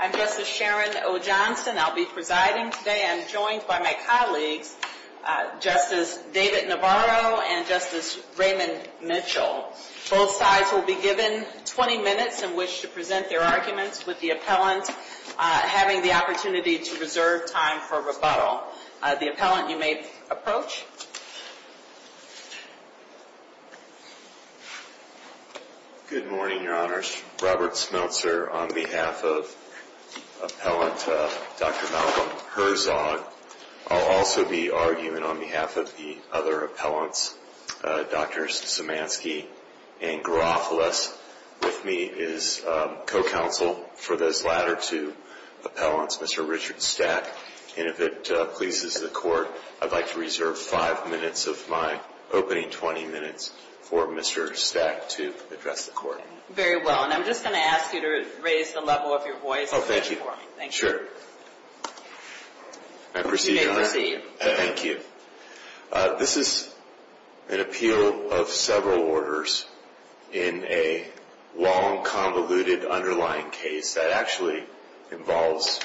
I'm Justice Sharon O. Johnson. I'll be presiding today. I'm joined by my colleagues, Justice David Navarro and Justice Raymond Mitchell. Both sides will be given 20 minutes in which to present their arguments, with the appellant having the opportunity to reserve time for rebuttal. The appellant, you may approach. Good morning, Your Honors. Robert Smeltzer, on behalf of appellant Dr. Malcolm Herzog. I'll also be arguing on behalf of the other appellants, Drs. Simansky and Garofalos. With me is co-counsel for those latter two appellants, Mr. Richard Stack. And if it pleases the Court, I'd like to reserve five minutes of my opening 20 minutes for Mr. Stack to address the Court. Very well. And I'm just going to ask you to raise the level of your voice a little bit more. Thank you. Sure. I proceed, Your Honor. You may proceed. Thank you. This is an appeal of several orders in a long, convoluted, underlying case that actually involves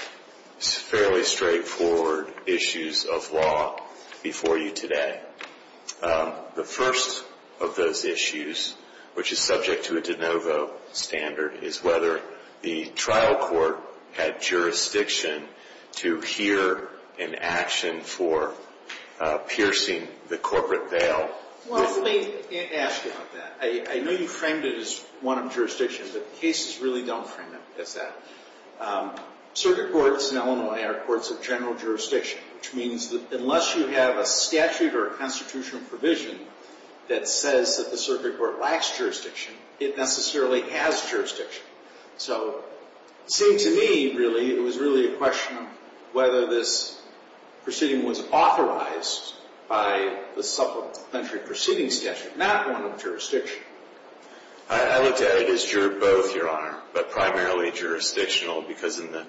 fairly straightforward issues of law before you today. The first of those issues, which is subject to a de novo standard, is whether the trial court had jurisdiction to hear an action for piercing the corporate veil. Well, let me ask you about that. I know you framed it as one of jurisdiction, but cases really don't frame them as that. Circuit courts in Illinois are courts of general jurisdiction, which means that unless you have a statute or a constitutional provision that says that the circuit court lacks jurisdiction, it necessarily has jurisdiction. So it seemed to me, really, it was really a question of whether this proceeding was authorized by the supplementary proceeding statute, not one of jurisdiction. I would say it is both, Your Honor, but primarily jurisdictional, because in the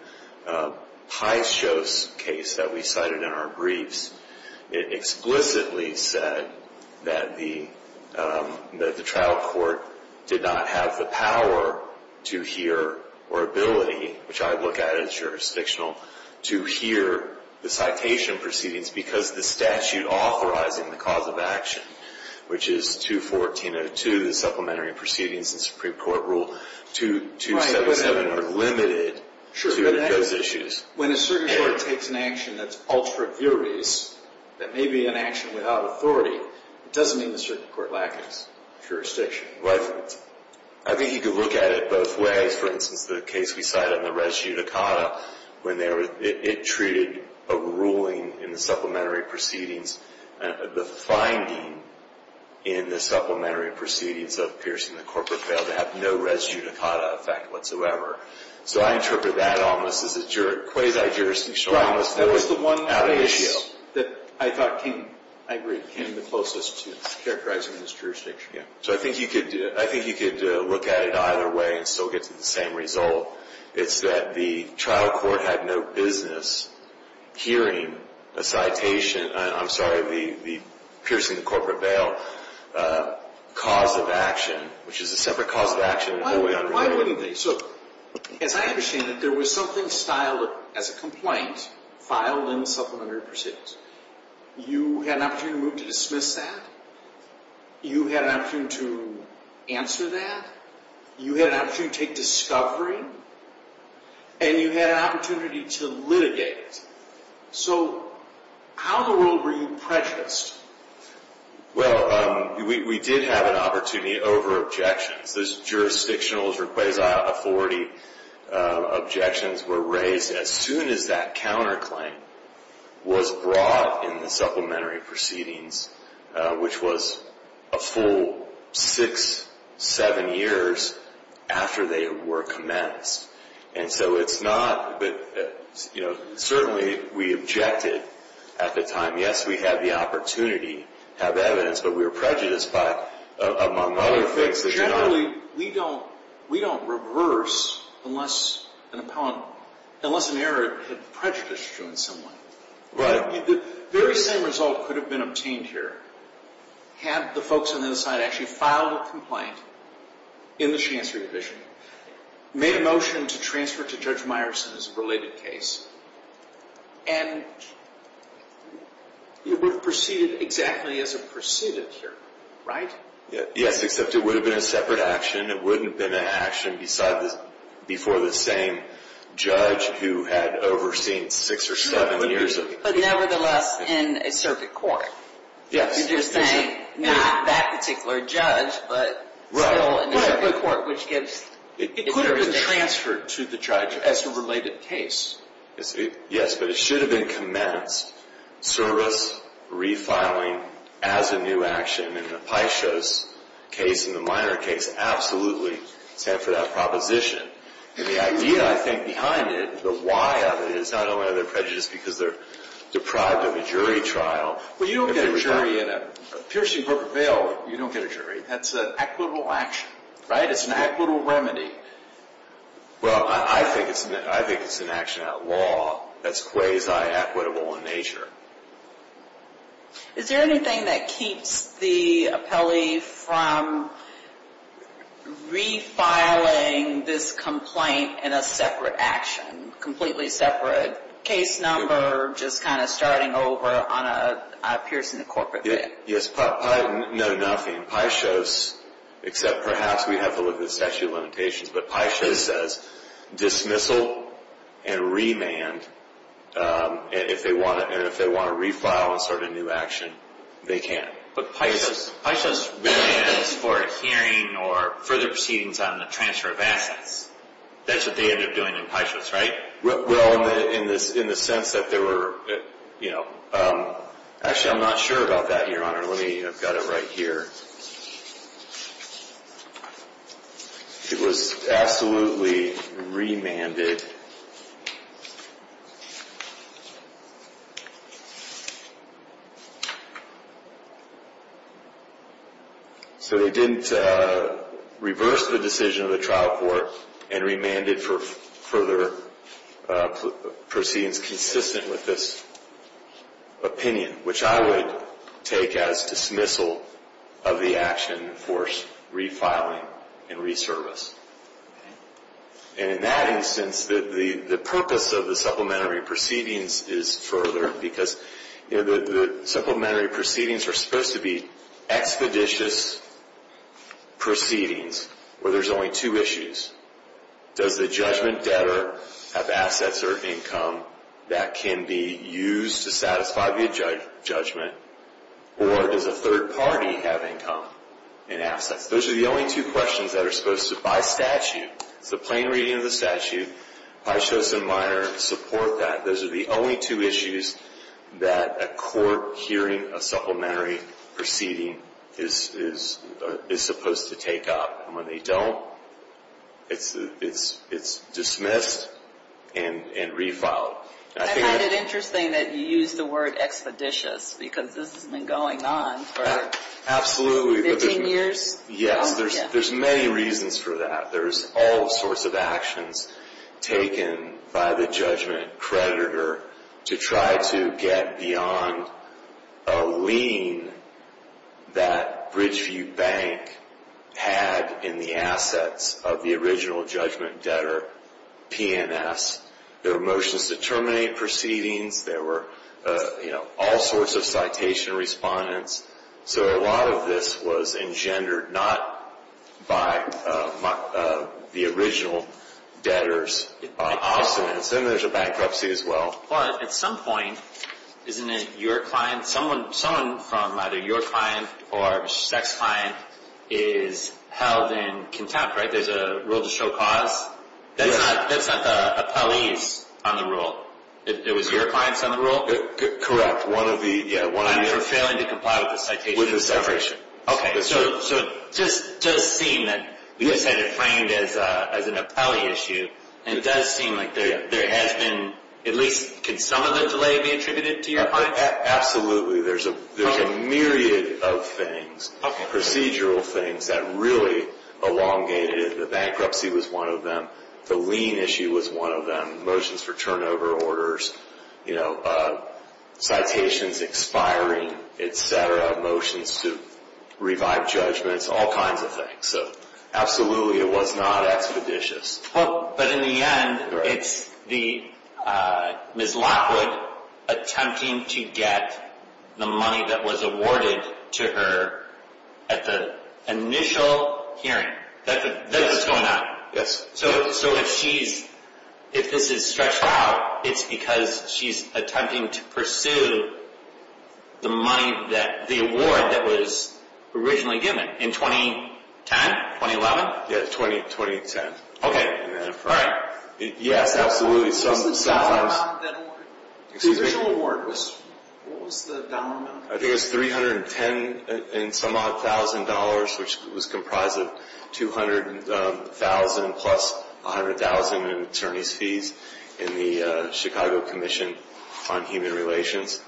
Paisios case that we cited in our briefs, it explicitly said that the trial court did not have the power to hear or ability, which I look at as jurisdictional, to hear the citation proceedings because the statute authorizing the cause of action, which is 214.02, the supplementary proceedings in Supreme Court Rule 277, are limited to those issues. When a circuit court takes an action that is ultra viris, that may be an action without authority, it doesn't mean the circuit court lacks jurisdiction. I think you could look at it both ways. For instance, the case we cited in the Res Judicata, when it treated a ruling in the supplementary proceedings, the finding in the supplementary proceedings of piercing the corporate bail to have no Res Judicata effect whatsoever. So I interpret that almost as a quasi-jurisdictional ominous ruling out of the issue. Right. That was the one case that I thought came, I agree, came the closest to characterizing this jurisdiction. Yeah. So I think you could look at it either way and still get to the same result. It's that the trial court had no business hearing a citation, I'm sorry, the piercing the corporate bail cause of action, which is a separate cause of action. Why wouldn't they? So as I understand it, there was something styled as a complaint filed in the supplementary proceedings. You had an opportunity to move to dismiss that. You had an opportunity to answer that. You had an opportunity to take discovery. And you had an opportunity to litigate. So how in the world were you prejudiced? Well, we did have an opportunity over objections. Those jurisdictional or quasi-authority objections were raised as soon as that counterclaim was brought in the supplementary evidence. And so it's not, but certainly we objected at the time. Yes, we had the opportunity to have evidence, but we were prejudiced by among other things. Generally, we don't reverse unless an error had prejudiced you in some way. Right. The very same result could have been obtained here had the folks on the other side actually filed a complaint in the chancery division, made a motion to transfer to Judge Meyerson as a related case, and it would have proceeded exactly as it proceeded here. Right? Yes, except it would have been a separate action. It wouldn't have been an action before the same judge who had overseen six or seven years of... But nevertheless, in a circuit court. Yes. You're just saying not that particular judge, but still in a circuit court which gives... It could have been transferred to the judge as a related case. Yes, but it should have been commenced, service, refiling as a new action in the Paisios case and the minor case absolutely stand for that proposition. And the idea, I think, behind it, the why of it is not only are they prejudiced because they're deprived of a jury trial... Well, you don't get a jury in a piercing, broker, bail. You don't get a jury. That's an equitable action. Right? It's an equitable remedy. Well, I think it's an action outlaw that's quasi-equitable in nature. Is there anything that keeps the appellee from refiling this complaint in a separate action? Completely separate case number, just kind of starting over on a piercing of corporate bail? Yes. No, nothing. Paisios, except perhaps we have to look at statute of limitations, but Paisios says dismissal and remand, and if they want to refile and start a new action, they can. But Paisios remands for a hearing or further proceedings on the transfer of assets. That's what they end up doing in Paisios, right? Well, in the sense that there were... Actually, I'm not sure about that, Your Honor. Let me... I've got it right here. It was absolutely remanded. So they didn't reverse the decision of the trial court and remanded for further proceedings consistent with this opinion, which I would take as dismissal of the action for refiling and reservice. And in that instance, the purpose of the supplementary proceedings is further, because the supplementary proceedings are supposed to be expeditious proceedings where there's only two issues. Does the judgment debtor have assets or income that can be used to satisfy the judgment, or does a third party have income and assets? Those are the only two questions that are supposed to, by statute, it's a plain reading of the statute. Paisios and Meyer support that. Those are the only two issues that a court hearing a supplementary proceeding is supposed to take up. And when they don't, it's dismissed and reviled. I find it interesting that you use the word expeditious, because this has been going on for 15 years. Yes, there's many reasons for that. There's all sorts of actions taken by the judgment creditor to try to get beyond a lien that Bridgeview Bank had in the assets of the original judgment debtor, P&S. There were motions to terminate proceedings. There were all sorts of citation respondents. So a lot of this was engendered not by the original debtors. And there's a bankruptcy as well. But at some point, isn't it your client, someone from either your client or a sex client is held in contempt, right? There's a rule to show cause. That's not the appellees on the rule. It was your clients on the rule? Correct. I'm for failing to comply with the citation. With the separation. Okay. So it does seem that you said it framed as an appellee issue. And it does seem like there has been, at least, can some of the delay be attributed to your client? Absolutely. There's a myriad of things, procedural things, that really elongated it. The bankruptcy was one of them. The lien issue was one of them. Motions for turnover orders. Citations expiring, et cetera. Motions to revive judgments. All kinds of things. So absolutely, it was not expeditious. But in the end, it's the Ms. Lockwood attempting to get the money that was awarded to her at the initial hearing. That's what's going on. Yes. So if this is stretched out, it's because she's attempting to pursue the award that was originally given in 2010, 2011? Yes, 2010. Okay. All right. Yes, absolutely. What was the down amount of that award? The original award, what was the down amount? I think it was $310-and-some-odd-thousand, which was comprised of $200,000 plus $100,000 in attorney's fees in the Chicago Commission on Human Relations.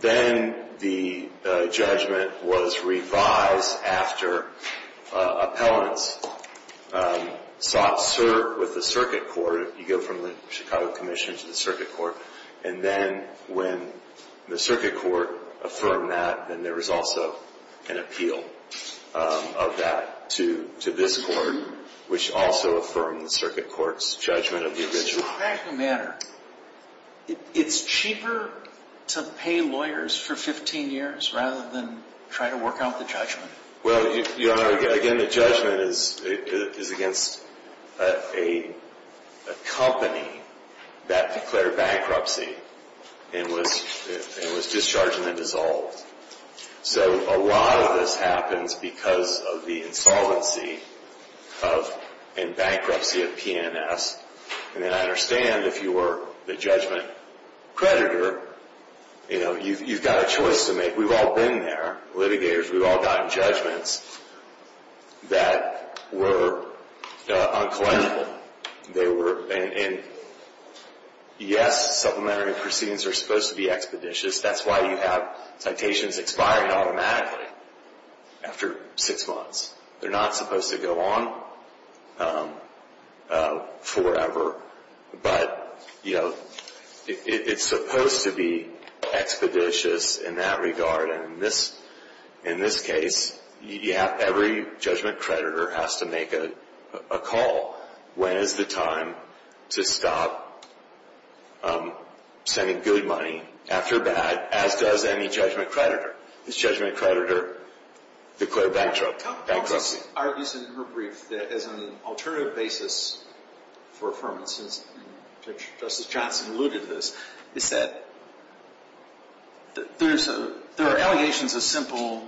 Then the judgment was revised after appellants sought with the circuit court. You go from the Chicago Commission to the circuit court. And then when the circuit court affirmed that, then there was also an appeal of that to this court, which also affirmed the circuit court's judgment of the original. In a practical manner, it's cheaper to pay lawyers for 15 years rather than try to work out the judgment? Well, Your Honor, again, the judgment is against a company that declared bankruptcy and was discharged and then dissolved. So a lot of this happens because of the insolvency and bankruptcy of P&S. And then I understand if you were the judgment creditor, you've got a choice to make. We've all been there, litigators. We've all gotten judgments that were unclinical. And yes, supplementary proceedings are supposed to be expeditious. That's why you have citations expiring automatically after six months. They're not supposed to go on forever. But, you know, it's supposed to be expeditious in that regard. And in this case, every judgment creditor has to make a call. When is the time to stop sending good money after bad, as does any judgment creditor? This judgment creditor declared bankruptcy. Justice argues in her brief that as an alternative basis for affirmances, and Justice Johnson alluded to this, is that there are allegations of simple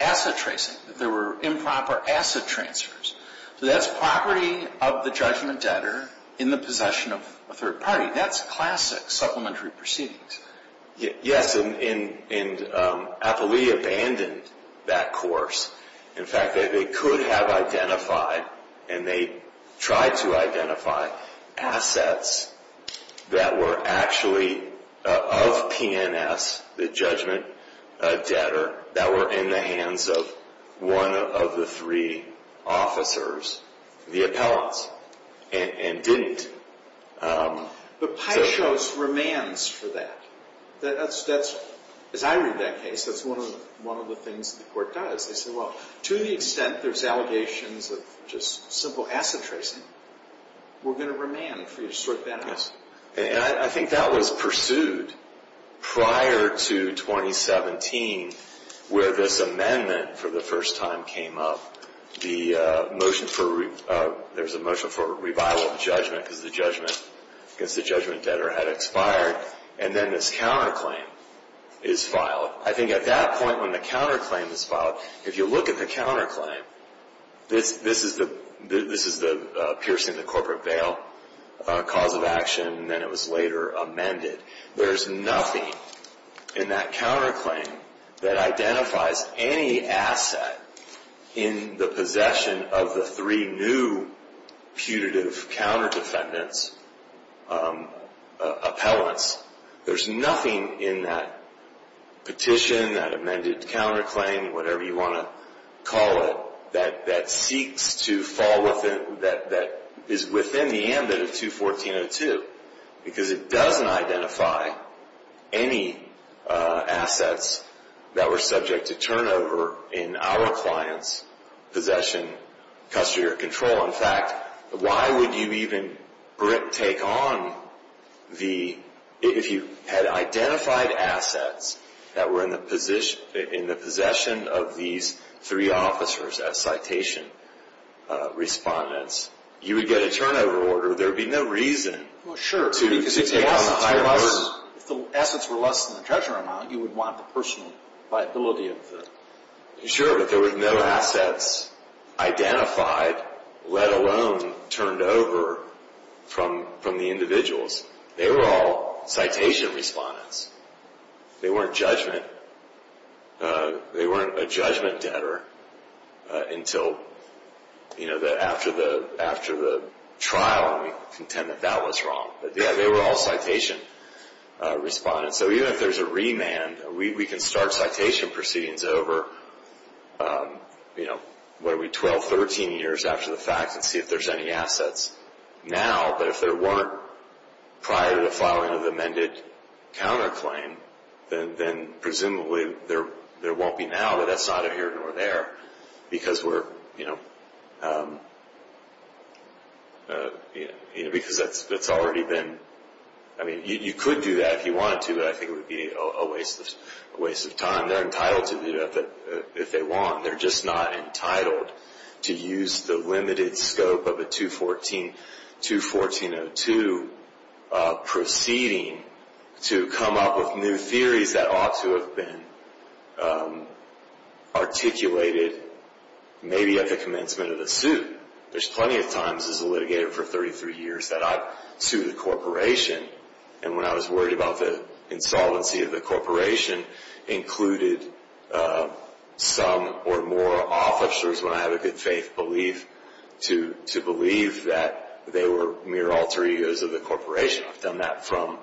asset tracing, that there were improper asset transfers. So that's property of the judgment debtor in the possession of a third party. That's classic supplementary proceedings. Yes, and Appley abandoned that course. In fact, they could have identified and they tried to identify assets that were actually of P&S, the judgment debtor, that were in the hands of one of the three officers, the appellants, and didn't. But Pyshos remands for that. As I read that case, that's one of the things the court does. They say, well, to the extent there's allegations of just simple asset tracing, we're going to remand for you to sort that out. And I think that was pursued prior to 2017, where this amendment for the first time came up. There was a motion for revival of judgment because the judgment debtor had expired. And then this counterclaim is filed. I think at that point when the counterclaim is filed, if you look at the counterclaim, this is the piercing the corporate bail cause of action, and then it was later amended. There's nothing in that counterclaim that identifies any asset in the possession of the three new putative counter defendants, appellants. There's nothing in that petition, that amended counterclaim, whatever you want to call it, that is within the ambit of 214.02. Because it doesn't identify any assets that were subject to turnover in our client's possession, custody, or control. In fact, why would you even take on the, if you had identified assets that were in the possession of these three officers as citation respondents, you would get a turnover order. There would be no reason to take on the higher order. If the assets were less than the treasurer amount, you would want the personal liability of the. Sure, but there were no assets identified, let alone turned over from the individuals. They were all citation respondents. They weren't a judgment debtor until after the trial, and we contend that that was wrong. But yeah, they were all citation respondents. So even if there's a remand, we can start citation proceedings over, what are we, 12, 13 years after the fact and see if there's any assets now. But if there weren't prior to the filing of the amended counterclaim, then presumably there won't be now, but that's neither here nor there. Because that's already been, I mean, you could do that if you wanted to, but I think it would be a waste of time. They're entitled to do that if they want. They're just not entitled to use the limited scope of a 214-214-02 proceeding to come up with new theories that ought to have been articulated maybe at the commencement of the suit. There's plenty of times as a litigator for 33 years that I've sued a corporation, and when I was worried about the insolvency of the corporation, included some or more officers, when I have a good faith belief, to believe that they were mere alter egos of the corporation. I've done that from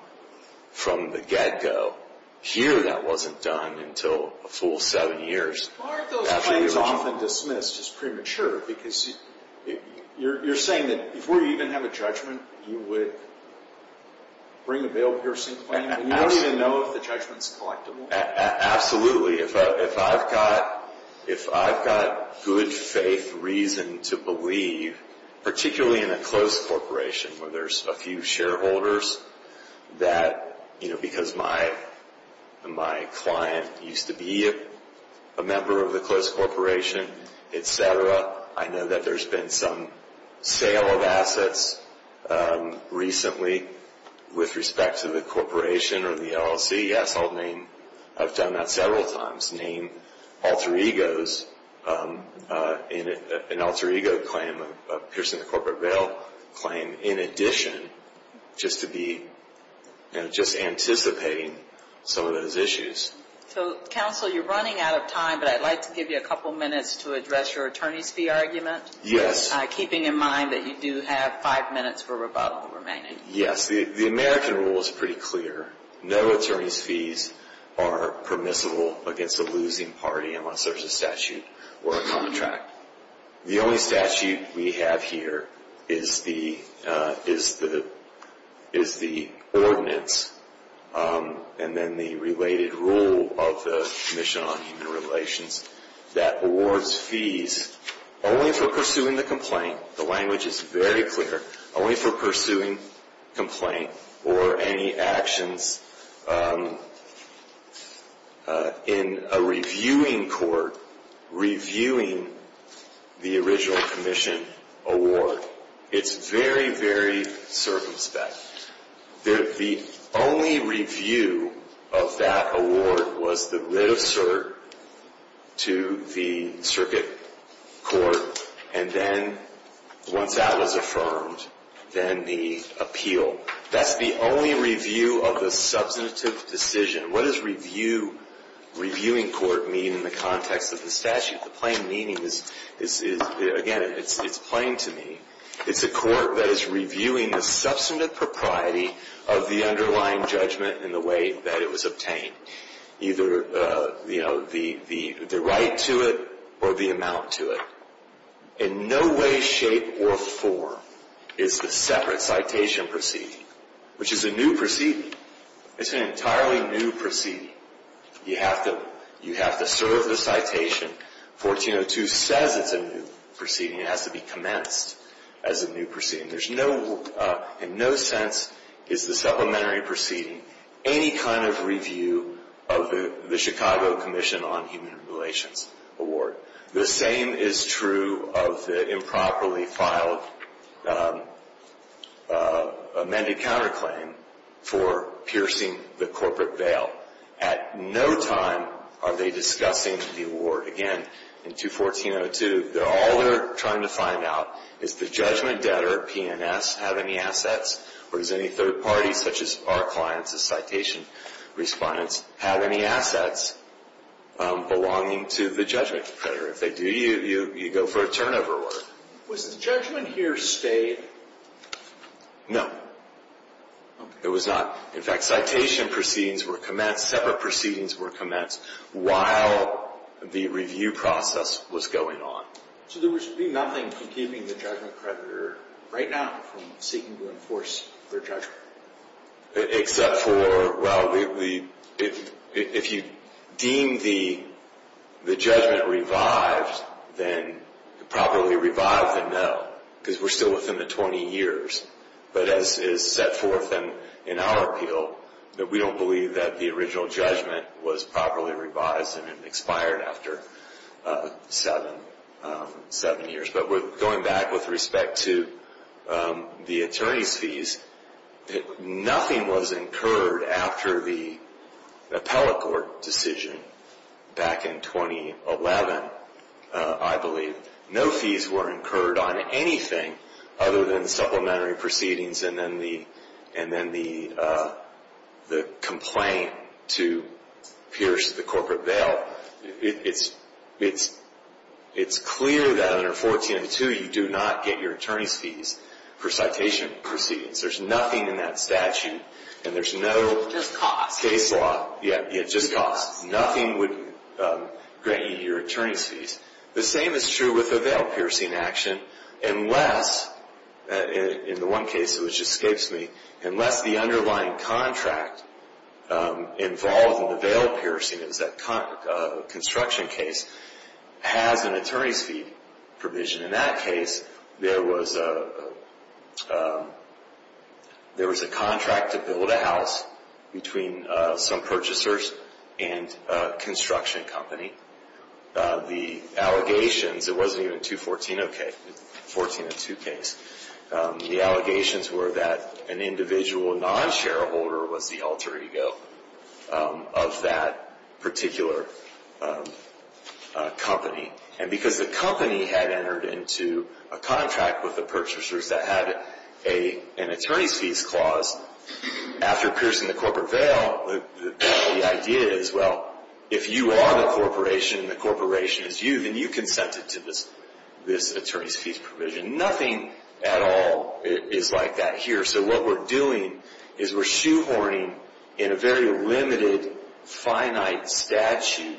the get-go. Here that wasn't done until a full seven years. Well, aren't those claims often dismissed as premature? Because you're saying that before you even have a judgment, you would bring a bail-piercing claim? You don't even know if the judgment's collectible. Absolutely. If I've got good faith reason to believe, particularly in a close corporation where there's a few shareholders, that because my client used to be a member of the close corporation, et cetera, I know that there's been some sale of assets recently with respect to the corporation or the LLC. I've done that several times, name alter egos in an alter ego claim, a piercing the corporate bail claim, in addition just to be anticipating some of those issues. Counsel, you're running out of time, but I'd like to give you a couple minutes to address your attorney's fee argument. Yes. Keeping in mind that you do have five minutes for rebuttal remaining. Yes. The American rule is pretty clear. No attorney's fees are permissible against a losing party unless there's a statute or a contract. The only statute we have here is the ordinance and then the related rule of the Commission on Human Relations that awards fees only for pursuing the complaint. The language is very clear, only for pursuing complaint or any actions in a reviewing court, reviewing the original commission award. It's very, very circumspect. The only review of that award was the writ of cert to the circuit court, and then once that was affirmed, then the appeal. That's the only review of the substantive decision. What does reviewing court mean in the context of the statute? The plain meaning is, again, it's plain to me. It's a court that is reviewing the substantive propriety of the underlying judgment in the way that it was obtained, either the right to it or the amount to it. In no way, shape, or form is the separate citation proceeding, which is a new proceeding. It's an entirely new proceeding. You have to serve the citation. 1402 says it's a new proceeding. It has to be commenced as a new proceeding. In no sense is the supplementary proceeding any kind of review of the Chicago Commission on Human Relations award. The same is true of the improperly filed amended counterclaim for piercing the corporate bail. At no time are they discussing the award. Again, in 21402, all they're trying to find out is the judgment debtor, P&S, have any assets, or does any third party, such as our clients as citation respondents, have any assets belonging to the judgment creditor? If they do, you go for a turnover award. Was the judgment here stayed? No. It was not. In fact, citation proceedings were commenced, separate proceedings were commenced, while the review process was going on. So there would be nothing keeping the judgment creditor right now from seeking to enforce their judgment? Except for, well, if you deem the judgment revived, then probably revive the note, because we're still within the 20 years. But as is set forth in our appeal, that we don't believe that the original judgment was properly revised and it expired after seven years. But going back with respect to the attorney's fees, nothing was incurred after the appellate court decision back in 2011, I believe. No fees were incurred on anything other than the supplementary proceedings and then the complaint to Pierce, the corporate bail. It's clear that under 1402, you do not get your attorney's fees for citation proceedings. There's nothing in that statute, and there's no case law. Yeah, just costs. Nothing would grant you your attorney's fees. The same is true with the bail piercing action, unless, in the one case which escapes me, unless the underlying contract involved in the bail piercing, it was that construction case, has an attorney's fee provision. In that case, there was a contract to build a house between some purchasers and a construction company. The allegations, it wasn't even 214, okay, 1402 case. The allegations were that an individual non-shareholder was the alter ego of that particular company. And because the company had entered into a contract with the purchasers that had an attorney's fees clause, after piercing the corporate bail, the idea is, well, if you are the corporation and the corporation is you, then you consented to this attorney's fees provision. Nothing at all is like that here. So what we're doing is we're shoehorning in a very limited, finite statute.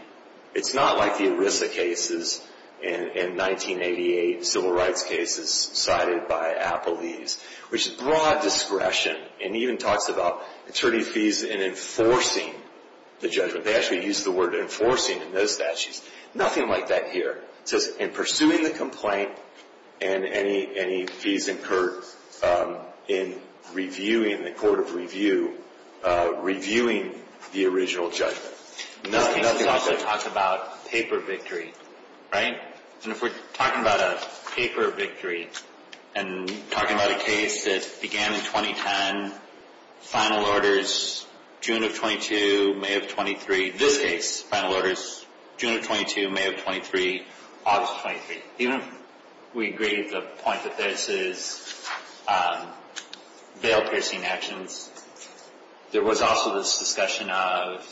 It's not like the ERISA cases in 1988, civil rights cases cited by Applebee's, which is broad discretion and even talks about attorney's fees in enforcing the judgment. They actually use the word enforcing in those statutes. Nothing like that here. It says in pursuing the complaint and any fees incurred in reviewing the court of review, reviewing the original judgment. Let's also talk about paper victory, right? And if we're talking about a paper victory and talking about a case that began in 2010, final orders June of 22, May of 23, this case, final orders June of 22, May of 23, August of 23. Even if we agree to the point that this is bail piercing actions, there was also this discussion of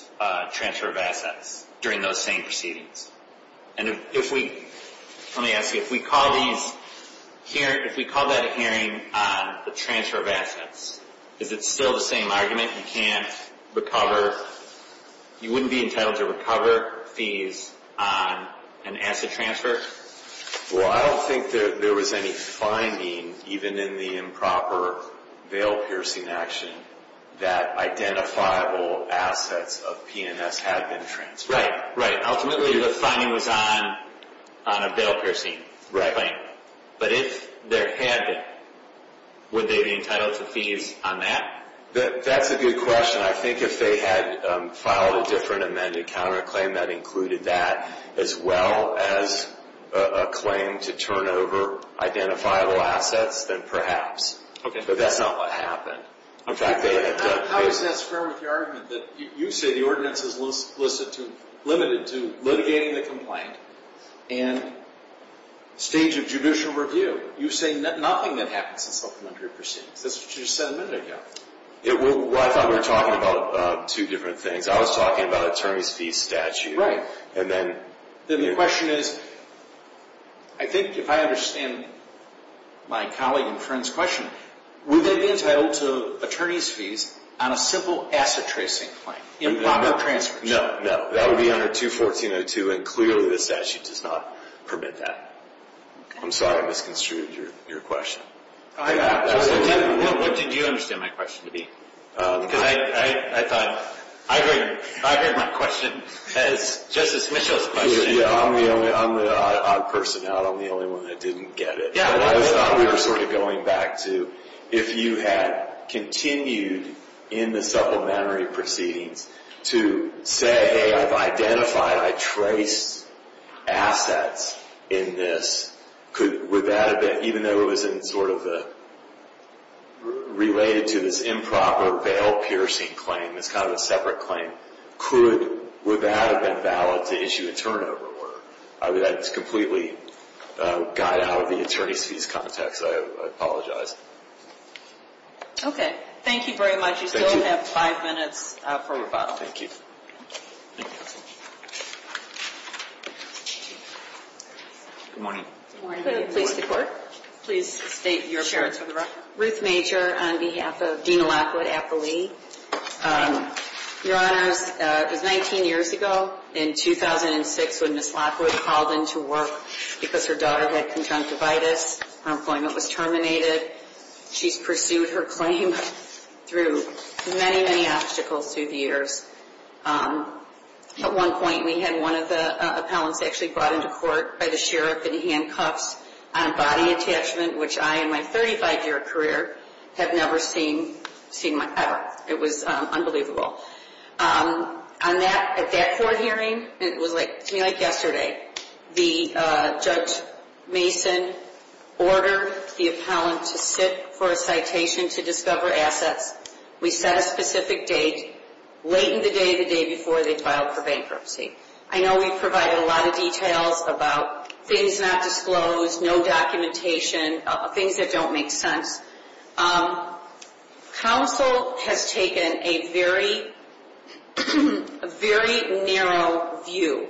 transfer of assets during those same proceedings. And if we, let me ask you, if we call these, if we call that a hearing on the transfer of assets, is it still the same argument? You can't recover, you wouldn't be entitled to recover fees on an asset transfer? Well, I don't think that there was any finding, even in the improper bail piercing action, that identifiable assets of P&S had been transferred. Right, right. Ultimately the finding was on a bail piercing claim. Right. But if there had been, would they be entitled to fees on that? That's a good question. I think if they had filed a different amended counterclaim that included that, as well as a claim to turn over identifiable assets, then perhaps. Okay. But that's not what happened. How is that fair with your argument that you say the ordinance is limited to litigating the complaint and stage of judicial review. You say nothing that happens in supplementary proceedings. That's what you just said a minute ago. Well, I thought we were talking about two different things. I was talking about attorney's fees statute. And then. Then the question is, I think if I understand my colleague and friend's question, would they be entitled to attorney's fees on a simple asset tracing claim? Improper transfer. No, no. That would be under 214.02, and clearly the statute does not permit that. I'm sorry I misconstrued your question. What did you understand my question to be? Because I thought I heard my question as Justice Mitchell's question. I'm the odd person out. I'm the only one that didn't get it. I thought we were sort of going back to if you had continued in the supplementary proceedings to say, hey, I've identified, I traced assets in this. Would that have been, even though it was sort of related to this improper bail piercing claim, it's kind of a separate claim. Would that have been valid to issue a turnover? That's completely got out of the attorney's fees context. I apologize. Okay. Thank you very much. You still have five minutes for rebuttal. Thank you. Good morning. Good morning. Could I please report? Please state your appearance for the record. Ruth Major on behalf of Dean Lockwood at the Lee. Your Honors, it was 19 years ago in 2006 when Ms. Lockwood called in to work because her daughter had conjunctivitis. Her employment was terminated. She's pursued her claim through many, many obstacles through the years. At one point, we had one of the appellants actually brought into court by the sheriff in handcuffs on a body attachment, which I, in my 35-year career, have never seen, ever. It was unbelievable. At that court hearing, it was to me like yesterday, the Judge Mason ordered the appellant to sit for a citation to discover assets. We set a specific date, late in the day, the day before they filed for bankruptcy. I know we provided a lot of details about things not disclosed, no documentation, things that don't make sense. Counsel has taken a very, very narrow view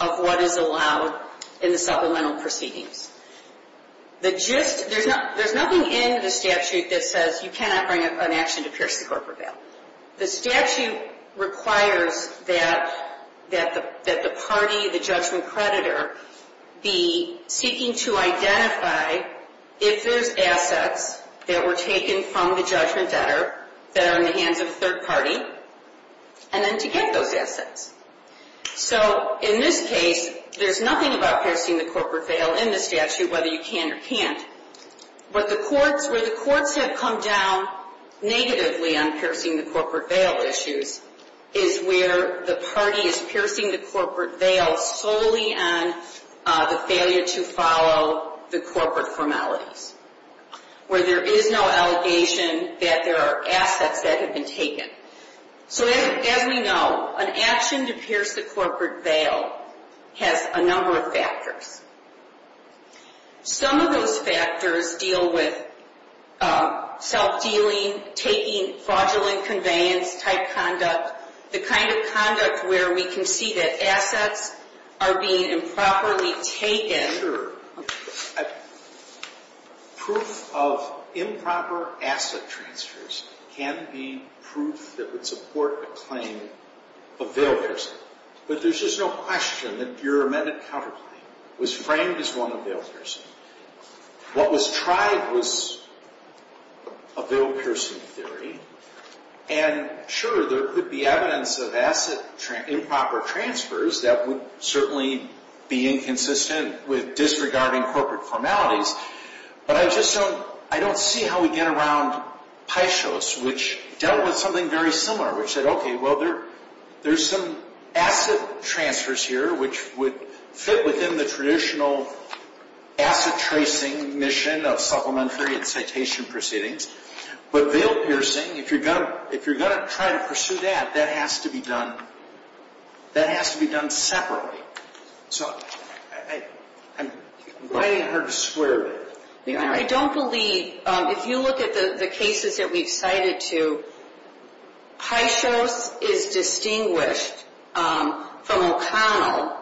of what is allowed in the supplemental proceedings. There's nothing in the statute that says you cannot bring an action to pierce the corporate veil. The statute requires that the party, the judgment creditor, be seeking to identify if there's assets that were taken from the judgment debtor that are in the hands of a third party, and then to get those assets. In this case, there's nothing about piercing the corporate veil in the statute, whether you can or can't. Where the courts have come down negatively on piercing the corporate veil issues is where the party is piercing the corporate veil solely on the failure to follow the corporate formalities, where there is no allegation that there are assets that have been taken. As we know, an action to pierce the corporate veil has a number of factors. Some of those factors deal with self-dealing, taking fraudulent conveyance-type conduct, the kind of conduct where we can see that assets are being improperly taken. Proof of improper asset transfers can be proof that would support a claim of veil piercing. But there's just no question that your amended counterclaim was framed as one of veil piercing. What was tried was a veil-piercing theory. And sure, there could be evidence of asset improper transfers that would certainly be inconsistent with disregarding corporate formalities. But I just don't see how we get around Peixos, which dealt with something very similar, which said, okay, well, there's some asset transfers here which would fit within the traditional asset-tracing mission of supplementary and citation proceedings. But veil-piercing, if you're going to try to pursue that, that has to be done separately. So I'm inviting her to square with it. I don't believe, if you look at the cases that we've cited to, Peixos is distinguished from O'Connell,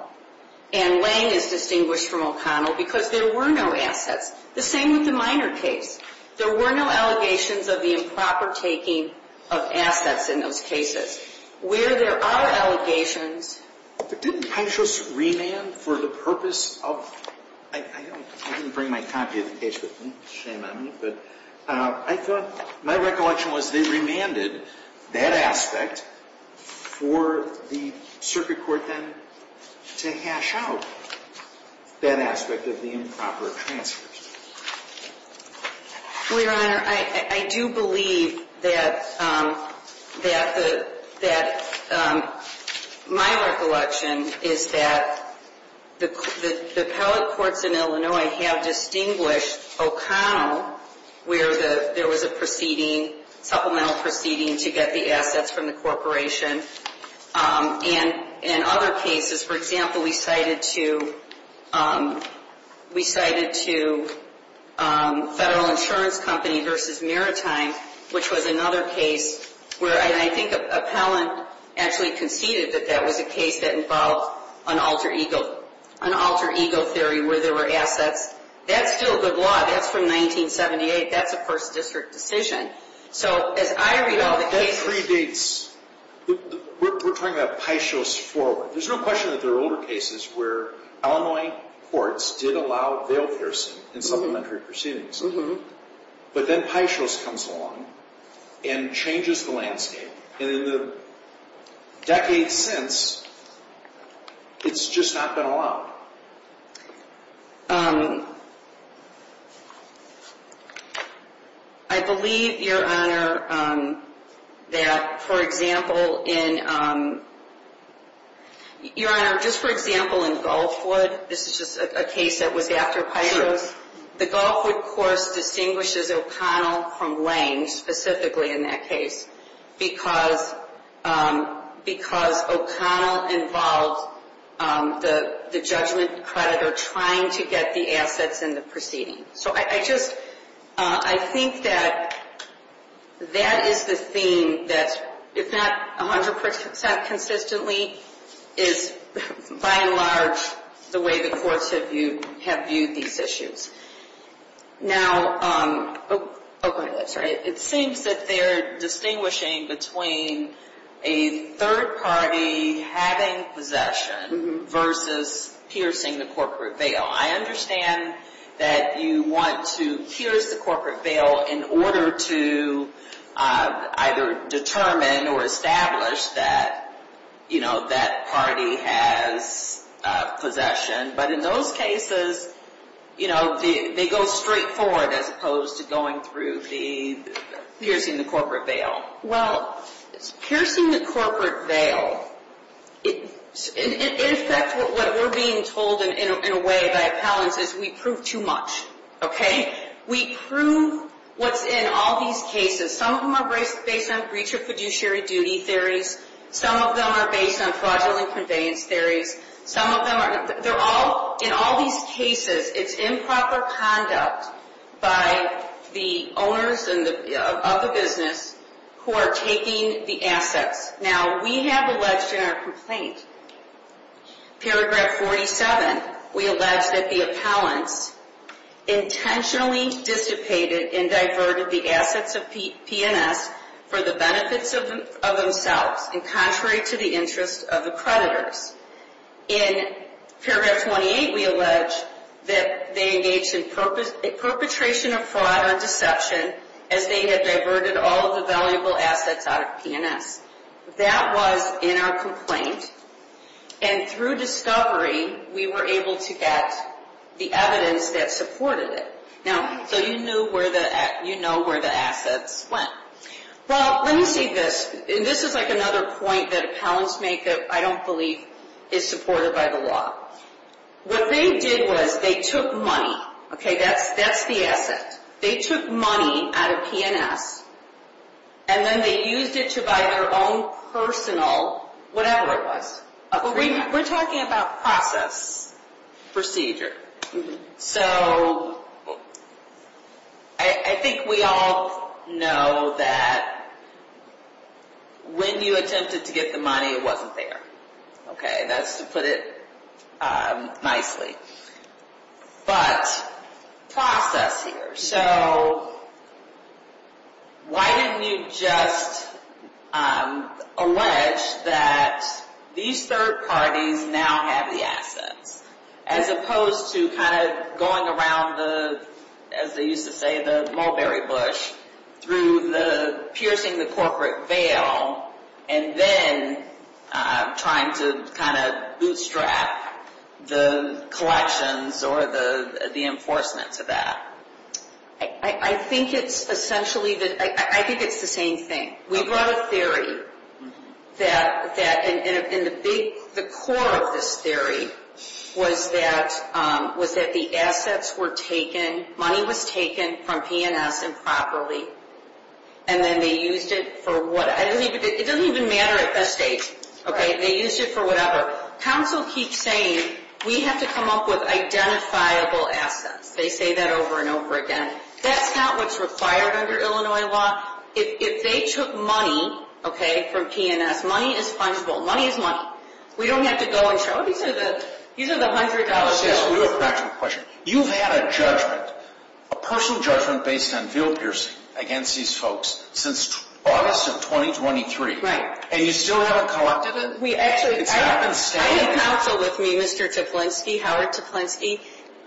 and Lange is distinguished from O'Connell because there were no assets. The same with the minor case. There were no allegations of the improper taking of assets in those cases. Where there are allegations. But didn't Peixos remand for the purpose of ‑‑ I didn't bring my copy of the case with me. Shame on me. But I thought my recollection was they remanded that aspect for the circuit court then to hash out that aspect of the improper transfers. Your Honor, I do believe that my recollection is that the appellate courts in Illinois have distinguished O'Connell where there was a proceeding, supplemental proceeding to get the assets from the corporation. And in other cases, for example, we cited to Federal Insurance Company versus Maritime, which was another case where I think appellant actually conceded that that was a case that involved an alter ego theory where there were assets. That's still good law. That's from 1978. That's a first district decision. That predates ‑‑ we're talking about Peixos forward. There's no question that there are older cases where Illinois courts did allow bail piercing in supplementary proceedings. But then Peixos comes along and changes the landscape. And in the decades since, it's just not been allowed. I believe, Your Honor, that, for example, in ‑‑ Your Honor, just for example, in Gulfwood, this is just a case that was after Peixos. The Gulfwood course distinguishes O'Connell from Lange, specifically in that case, because O'Connell involved the judgment creditor trying to get the assets in the proceeding. So I just ‑‑ I think that that is the theme that, if not 100% consistently, is by and large the way the courts have viewed these issues. Now ‑‑ oh, sorry. It seems that they're distinguishing between a third party having possession versus piercing the corporate bail. I understand that you want to pierce the corporate bail in order to either determine or establish that, you know, that party has possession. But in those cases, you know, they go straightforward as opposed to going through the piercing the corporate bail. Well, it's piercing the corporate bail. In effect, what we're being told in a way by Appellant is we prove too much. Okay? We prove what's in all these cases. Some of them are based on breach of fiduciary duty theories. Some of them are based on fraudulent conveyance theories. Some of them are ‑‑ they're all, in all these cases, it's improper conduct by the owners of the business who are taking the assets. Now, we have alleged in our complaint, paragraph 47, we allege that the appellants intentionally dissipated and diverted the assets of P&S for the benefits of themselves and contrary to the interests of the creditors. In paragraph 28, we allege that they engaged in perpetration of fraud or deception as they had diverted all of the valuable assets out of P&S. That was in our complaint. And through discovery, we were able to get the evidence that supported it. Now, so you know where the assets went. Well, let me say this. This is like another point that appellants make that I don't believe is supported by the law. What they did was they took money. Okay? That's the asset. They took money out of P&S, and then they used it to buy their own personal whatever it was. We're talking about process. Procedure. So I think we all know that when you attempted to get the money, it wasn't there. Okay? That's to put it nicely. But process here. So why didn't you just allege that these third parties now have the assets as opposed to kind of going around the, as they used to say, the mulberry bush, through the piercing the corporate veil, and then trying to kind of bootstrap the collections or the enforcement to that? I think it's essentially the, I think it's the same thing. We brought a theory that, and the core of this theory was that the assets were taken, money was taken from P&S improperly, and then they used it for whatever. It doesn't even matter at this stage. Okay? They used it for whatever. Counsel keeps saying we have to come up with identifiable assets. They say that over and over again. That's not what's required under Illinois law. If they took money, okay, from P&S, money is fungible. Money is money. We don't have to go and show, oh, these are the $100 bills. Alice, yes, we have a practical question. You've had a judgment, a personal judgment based on veil piercing against these folks since August of 2023. Right. And you still haven't collected them? Actually, I have counsel with me, Mr. Tiplinski, Howard Tiplinski.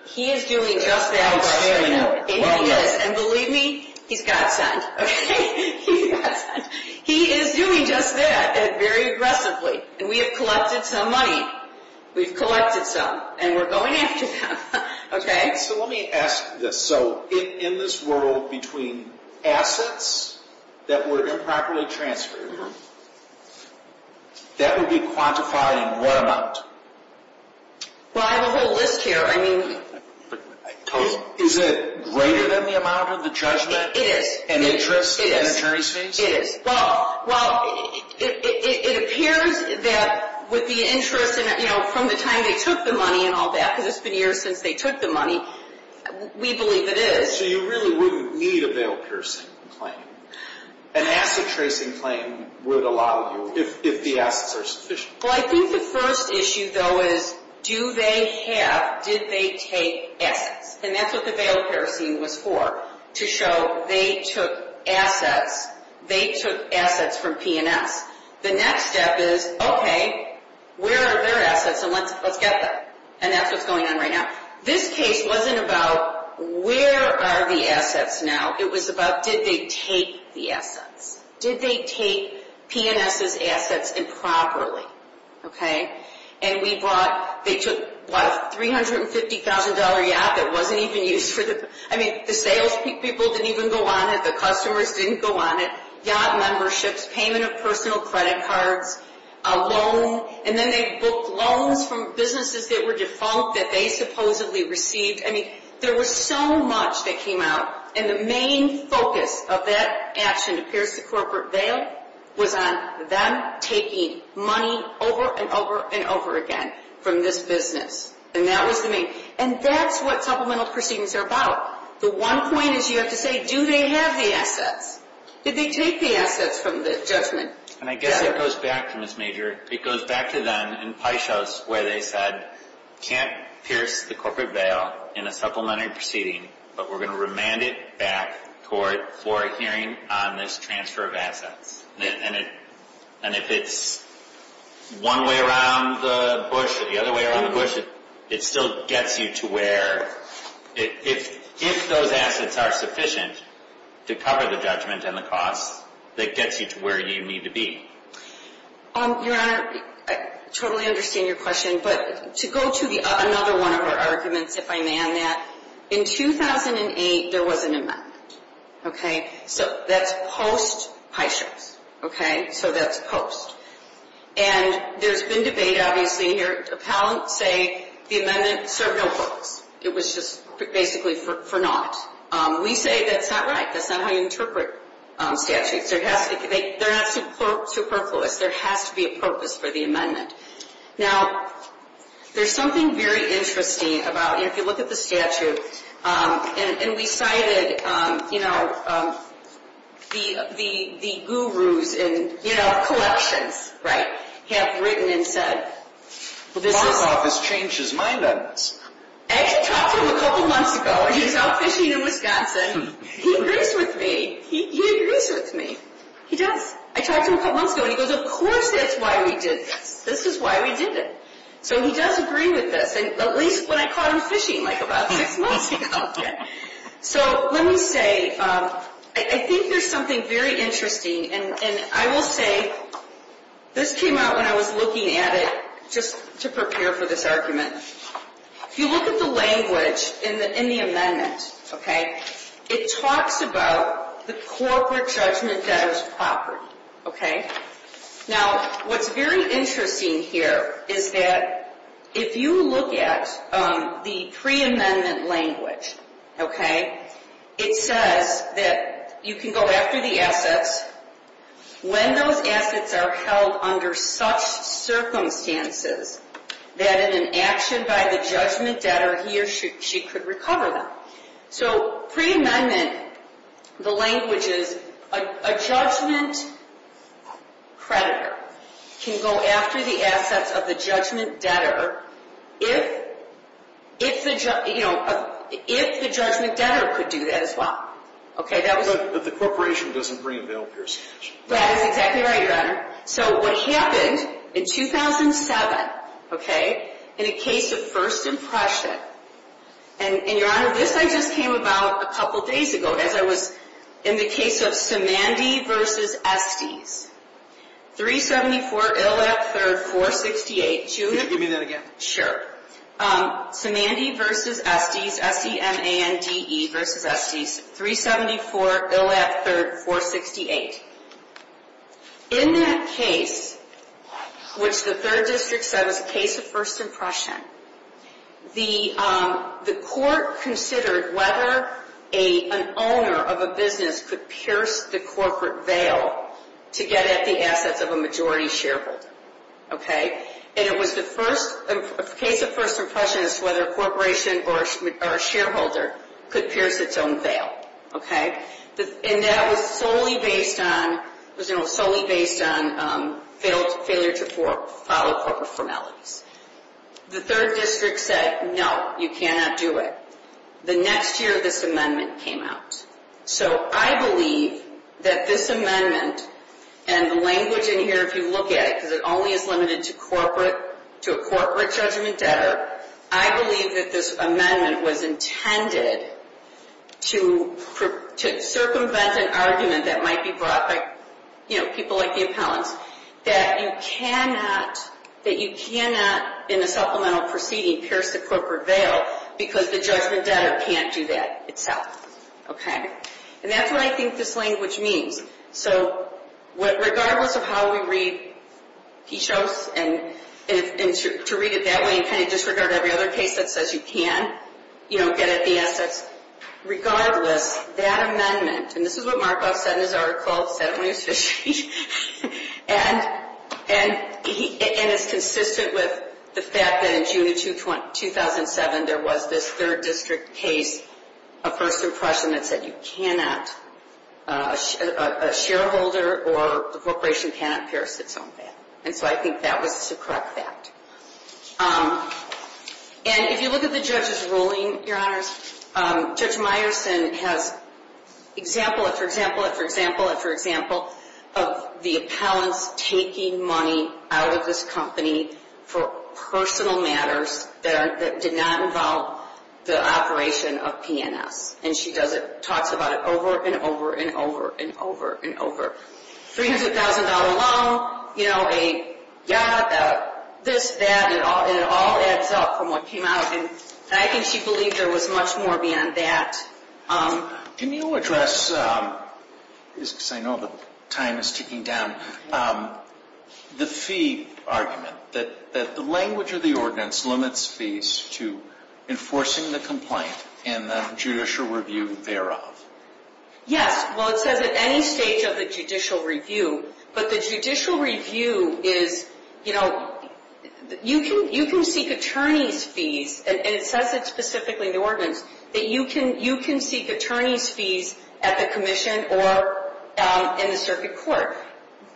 He is doing just that. He's standing well enough. And he is. And believe me, he's got sent. Okay? He's got sent. He is doing just that very aggressively. And we have collected some money. We've collected some. And we're going after them. Okay? So let me ask this. So in this world, between assets that were improperly transferred, that would be quantified in what amount? Well, I have a whole list here. I mean, totally. Is it greater than the amount of the judgment? It is. And interest in an attorney's fees? It is. Well, it appears that with the interest and, you know, from the time they took the money and all that, because it's been years since they took the money, we believe it is. So you really wouldn't need a veil piercing claim. An asset tracing claim would allow you if the assets are sufficient. Well, I think the first issue, though, is do they have, did they take assets? And that's what the veil piercing was for, to show they took assets. They took assets from P&S. The next step is, okay, where are their assets and let's get them. And that's what's going on right now. This case wasn't about where are the assets now. It was about did they take the assets. Did they take P&S's assets improperly? Okay? And we brought, they took a $350,000 yacht that wasn't even used for the, I mean, the sales people didn't even go on it. The customers didn't go on it. Yacht memberships, payment of personal credit cards, a loan. And then they booked loans from businesses that were defunct that they supposedly received. I mean, there was so much that came out. And the main focus of that action to pierce the corporate veil was on them taking money over and over and over again from this business. And that was the main. And that's what supplemental proceedings are about. The one point is you have to say do they have the assets. Did they take the assets from the judgment? And I guess it goes back to Ms. Major. It goes back to them in Paisos where they said can't pierce the corporate veil in a supplementary proceeding, but we're going to remand it back for a hearing on this transfer of assets. And if it's one way around the bush or the other way around the bush, it still gets you to where, if those assets are sufficient to cover the judgment and the costs, that gets you to where you need to be. Your Honor, I totally understand your question. But to go to another one of our arguments, if I may on that, in 2008 there was an amendment. Okay? So that's post Paisos. Okay? So that's post. And there's been debate, obviously, here. Appellants say the amendment served no purpose. It was just basically for naught. We say that's not right. That's not how you interpret statutes. They're not superfluous. There has to be a purpose for the amendment. Now, there's something very interesting about, you know, if you look at the statute, and we cited, you know, the gurus in, you know, collections, right, have written and said, well, this is... Bob's office changed his mind on this. I actually talked to him a couple months ago when he was out fishing in Wisconsin. He agrees with me. He agrees with me. He does. I talked to him a couple months ago, and he goes, of course that's why we did this. This is why we did it. So he does agree with this, at least when I caught him fishing like about six months ago. So let me say, I think there's something very interesting, and I will say, this came out when I was looking at it just to prepare for this argument. If you look at the language in the amendment, okay, it talks about the corporate judgment that is property. Okay? Now, what's very interesting here is that if you look at the preamendment language, okay, it says that you can go after the assets when those assets are held under such circumstances that in an action by the judgment debtor, he or she could recover them. So preamendment, the language is a judgment creditor can go after the assets of the judgment debtor if the judgment debtor could do that as well. Okay, that was But the corporation doesn't re-avail a person's cash. That is exactly right, Your Honor. So what happened in 2007, okay, in a case of first impression, and Your Honor, this I just came about a couple days ago as I was in the case of Samandi v. Estes, 374 Illett 3rd 468. Could you repeat that again? Sure. Samandi v. Estes, S-E-M-A-N-D-E v. Estes, 374 Illett 3rd 468. In that case, which the third district said was a case of first impression, the court considered whether an owner of a business could pierce the corporate veil to get at the assets of a majority shareholder. Okay, and it was the first, a case of first impression is whether a corporation or a shareholder could pierce its own veil. Okay, and that was solely based on failure to follow corporate formalities. The third district said, no, you cannot do it. The next year this amendment came out. So I believe that this amendment, and the language in here, if you look at it, because it only is limited to a corporate judgment debtor, I believe that this amendment was intended to circumvent an argument that might be brought by, you know, people like the appellants, that you cannot, in a supplemental proceeding, pierce the corporate veil because the judgment debtor can't do that itself. Okay, and that's what I think this language means. So regardless of how we read Pichos, and to read it that way and kind of disregard every other case that says you can, you know, get at the assets, regardless, that amendment, and this is what Markoff said in his article, said it when he was fishing, and it's consistent with the fact that in June of 2007 there was this third district case, a first impression that said you cannot, a shareholder or a corporation cannot pierce its own veil. And so I think that was a correct fact. And if you look at the judge's ruling, Your Honors, Judge Meyerson has example after example after example after example of the appellants taking money out of this company for personal matters that did not involve the operation of PNS. And she does it, talks about it over and over and over and over and over. $300,000 loan, you know, a yacht, this, that, and it all adds up from what came out. And I think she believed there was much more beyond that. Can you address, because I know the time is ticking down, the fee argument, that the language of the ordinance limits fees to enforcing the complaint and the judicial review thereof? Yes. Well, it says at any stage of the judicial review, but the judicial review is, you know, you can seek attorney's fees, and it says it specifically in the ordinance, that you can seek attorney's fees at the commission or in the circuit court.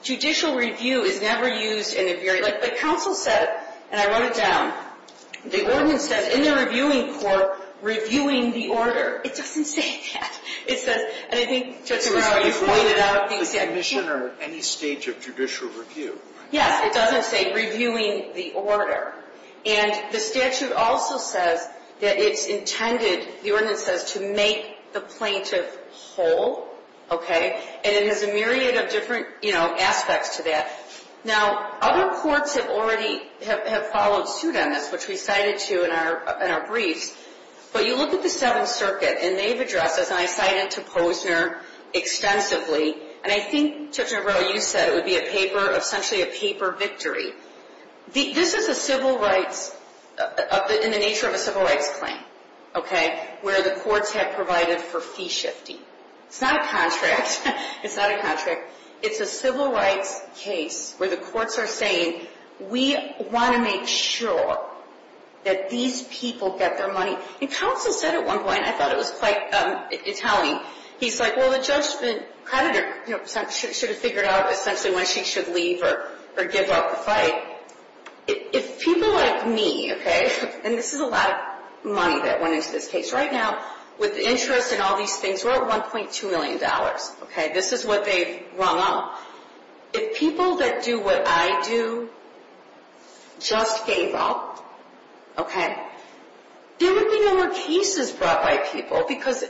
Judicial review is never used in a very, like counsel said, and I wrote it down, the ordinance says, in the reviewing court, reviewing the order. It doesn't say that. It says, and I think, Justice Breyer, you've pointed out things. The commission or any stage of judicial review. Yes, it doesn't say reviewing the order. And the statute also says that it's intended, the ordinance says, to make the plaintiff whole. Okay? And it has a myriad of different, you know, aspects to that. Now, other courts have already, have followed suit on this, which we cited to in our briefs, but you look at the Seventh Circuit, and they've addressed this, and I cited to Posner extensively, and I think, Judge McGraw, you said it would be a paper, essentially a paper victory. This is a civil rights, in the nature of a civil rights claim, okay, where the courts have provided for fee shifting. It's not a contract. It's not a contract. It's a civil rights case where the courts are saying, we want to make sure that these people get their money. And counsel said at one point, I thought it was quite telling, he's like, well, the judge should have figured out, essentially, when she should leave or give up the fight. If people like me, okay, and this is a lot of money that went into this case right now, with interest and all these things, we're at $1.2 million. Okay, this is what they've rung up. If people that do what I do just gave up, okay, there would be no more cases brought by people because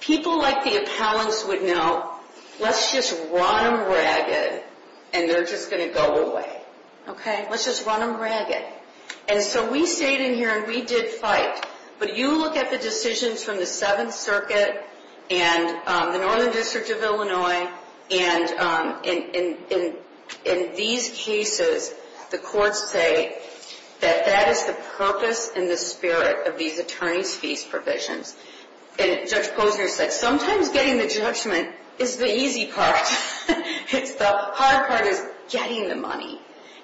people like the appellants would know, let's just run them ragged, and they're just going to go away. Okay, let's just run them ragged. And so we stayed in here, and we did fight. But you look at the decisions from the Seventh Circuit and the Northern District of Illinois, and in these cases, the courts say that that is the purpose and the spirit of these attorney's fees provisions. And Judge Posner said sometimes getting the judgment is the easy part. The hard part is getting the money.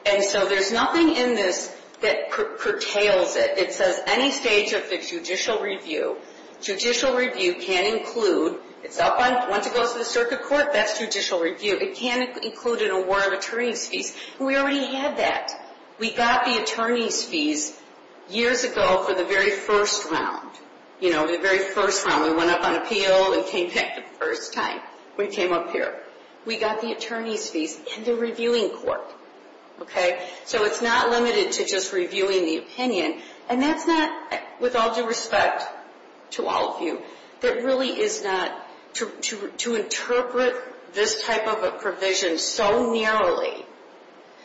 And so there's nothing in this that curtails it. It says any stage of the judicial review. Judicial review can include, once it goes to the circuit court, that's judicial review. It can include an award of attorney's fees. We already had that. We got the attorney's fees years ago for the very first round. You know, the very first round. We went up on appeal and came back the first time. We came up here. We got the attorney's fees in the reviewing court. So it's not limited to just reviewing the opinion. And that's not, with all due respect to all of you, that really is not to interpret this type of a provision so narrowly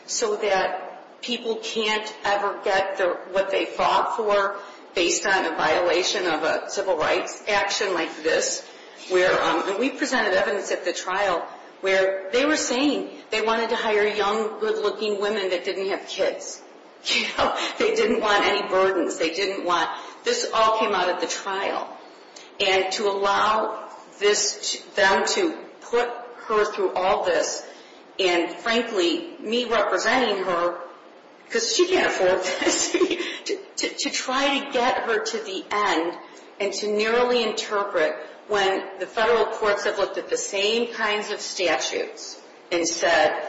so that people can't ever get what they fought for based on a violation of a civil rights action like this. We presented evidence at the trial where they were saying they wanted to hire young, good-looking women that didn't have kids. They didn't want any burdens. This all came out at the trial. And to allow them to put her through all this and, frankly, me representing her, because she can't afford this, to try to get her to the end and to narrowly interpret when the federal courts have looked at the same kinds of statutes and said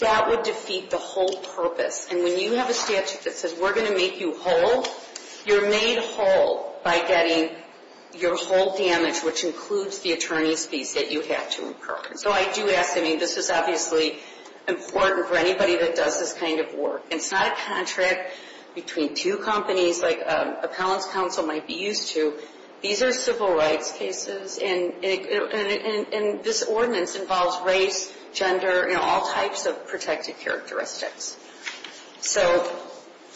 that would defeat the whole purpose. And when you have a statute that says we're going to make you whole, you're made whole by getting your whole damage, which includes the attorney's fees that you have to incur. So I do ask, I mean, this is obviously important for anybody that does this kind of work. It's not a contract between two companies like an appellant's counsel might be used to. These are civil rights cases, and this ordinance involves race, gender, all types of protected characteristics.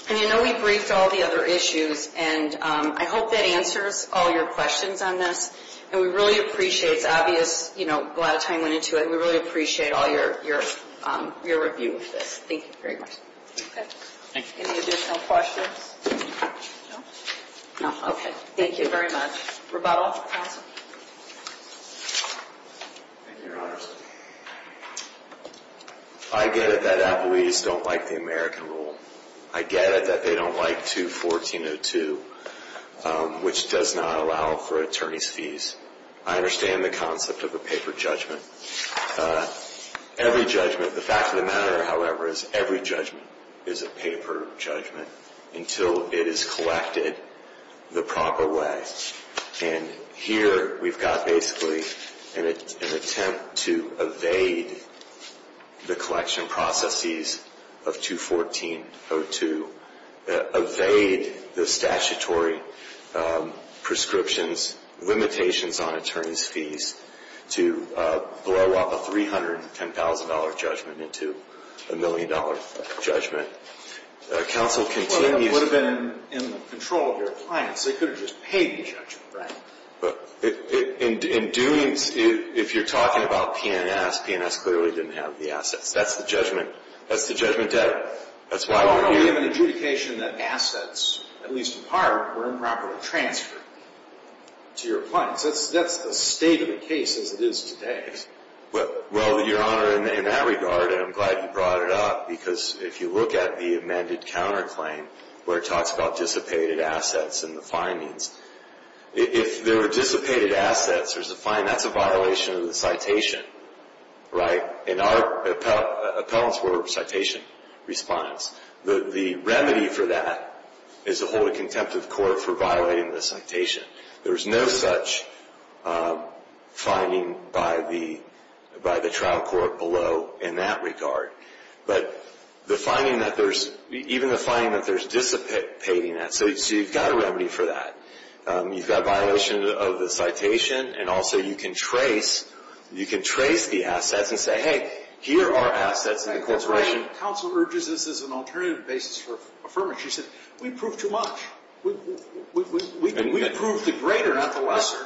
And you know we briefed all the other issues, and I hope that answers all your questions on this. And we really appreciate, it's obvious, a lot of time went into it, and we really appreciate all your review of this. Thank you very much. Okay. Thank you. Any additional questions? No? No. Okay. Thank you very much. Rebuttal, counsel? Thank you, Your Honors. I get it that appellees don't like the American rule. I get it that they don't like 214.02, which does not allow for attorney's fees. I understand the concept of a paper judgment. Every judgment, the fact of the matter, however, is every judgment is a paper judgment until it is collected the proper way. And here we've got basically an attempt to evade the collection processes of 214.02, evade the statutory prescriptions, limitations on attorney's fees, to blow up a $310,000 judgment into a million-dollar judgment. Counsel, continue. Well, that would have been in the control of your clients. They could have just paid the judgment, right? In Dunes, if you're talking about P&S, P&S clearly didn't have the assets. That's the judgment debt. Well, we have an adjudication that assets, at least in part, were improperly transferred to your clients. That's the state of the case as it is today. Well, Your Honor, in that regard, and I'm glad you brought it up, because if you look at the amended counterclaim where it talks about dissipated assets in the findings, if there were dissipated assets, there's a fine, that's a violation of the citation, right? In our appellant's order of citation response, the remedy for that is to hold a contempt of court for violating the citation. There's no such finding by the trial court below in that regard. But the finding that there's dissipating assets, so you've got a remedy for that. You've got a violation of the citation, and also you can trace the assets and say, hey, here are assets in the corporation. Counsel urges this as an alternative basis for affirmation. She said, we proved too much. We proved the greater, not the lesser.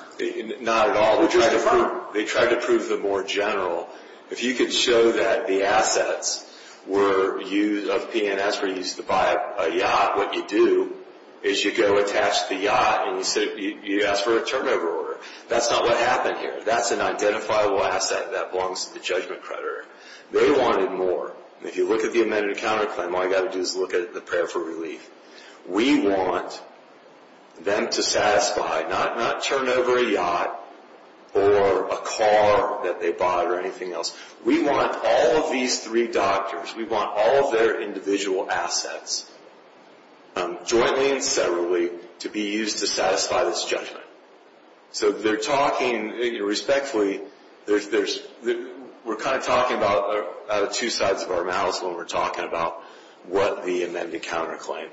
Not at all. We just affirmed. They tried to prove the more general. If you could show that the assets of P&S were used to buy a yacht, what you do is you go attach the yacht and you ask for a turnover order. That's not what happened here. That's an identifiable asset that belongs to the judgment creditor. They wanted more. If you look at the amended counterclaim, all you've got to do is look at the prayer for relief. We want them to satisfy, not turnover a yacht or a car that they bought or anything else. We want all of these three doctors, we want all of their individual assets, jointly and separately, to be used to satisfy this judgment. They're talking, respectfully, we're kind of talking out of two sides of our mouths when we're talking about what the amended counterclaim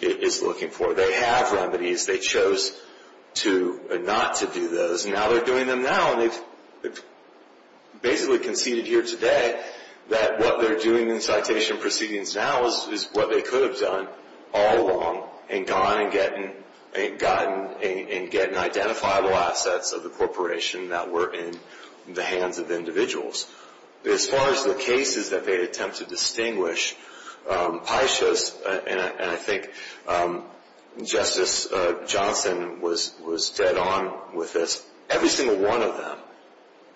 is looking for. They have remedies. They chose not to do those. Now they're doing them now. They've basically conceded here today that what they're doing in citation proceedings now is what they could have done all along, and gone and gotten identifiable assets of the corporation that were in the hands of individuals. As far as the cases that they attempt to distinguish, and I think Justice Johnson was dead on with this, every single one of them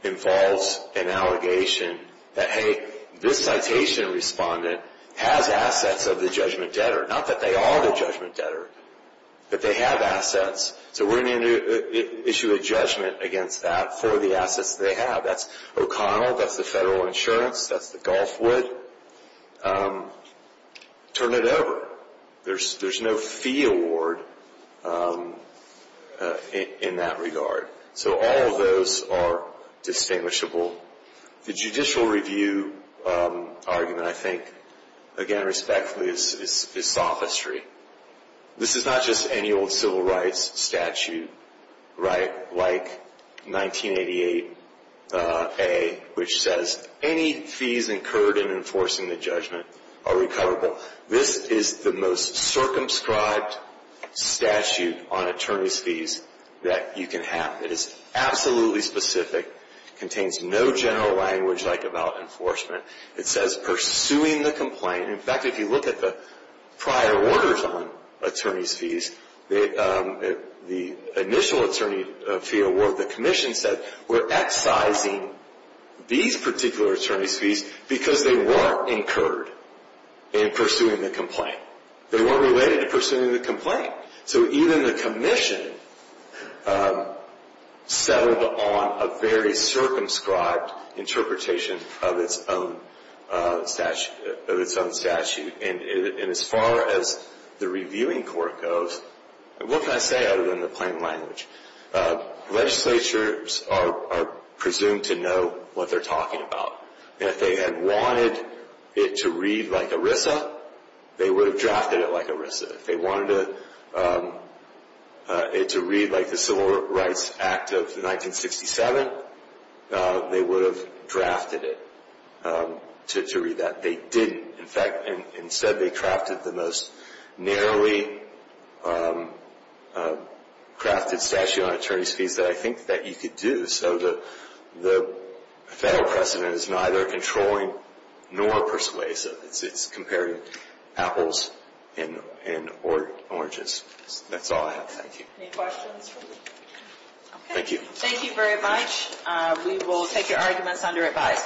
involves an allegation that, hey, this citation respondent has assets of the judgment debtor. Not that they are the judgment debtor, but they have assets. So we're going to issue a judgment against that for the assets they have. That's O'Connell, that's the federal insurance, that's the Gulfwood. Turn it over. There's no fee award in that regard. So all of those are distinguishable. The judicial review argument, I think, again, respectfully, is sophistry. This is not just any old civil rights statute, right, like 1988A, which says any fees incurred in enforcing the judgment are recoverable. This is the most circumscribed statute on attorney's fees that you can have. It is absolutely specific. It contains no general language like about enforcement. It says pursuing the complaint. In fact, if you look at the prior orders on attorney's fees, the initial attorney fee award, the commission said, we're excising these particular attorney's fees because they weren't incurred in pursuing the complaint. They weren't related to pursuing the complaint. So even the commission settled on a very circumscribed interpretation of its own statute. And as far as the reviewing court goes, what can I say other than the plain language? Legislatures are presumed to know what they're talking about. If they had wanted it to read like ERISA, they would have drafted it like ERISA. If they wanted it to read like the Civil Rights Act of 1967, they would have drafted it to read that. They didn't. In fact, instead they crafted the most narrowly crafted statute on attorney's fees that I think that you could do. So the federal precedent is neither controlling nor persuasive. It's comparing apples and oranges. That's all I have. Any questions? Thank you. Thank you very much. We will take your arguments under advice.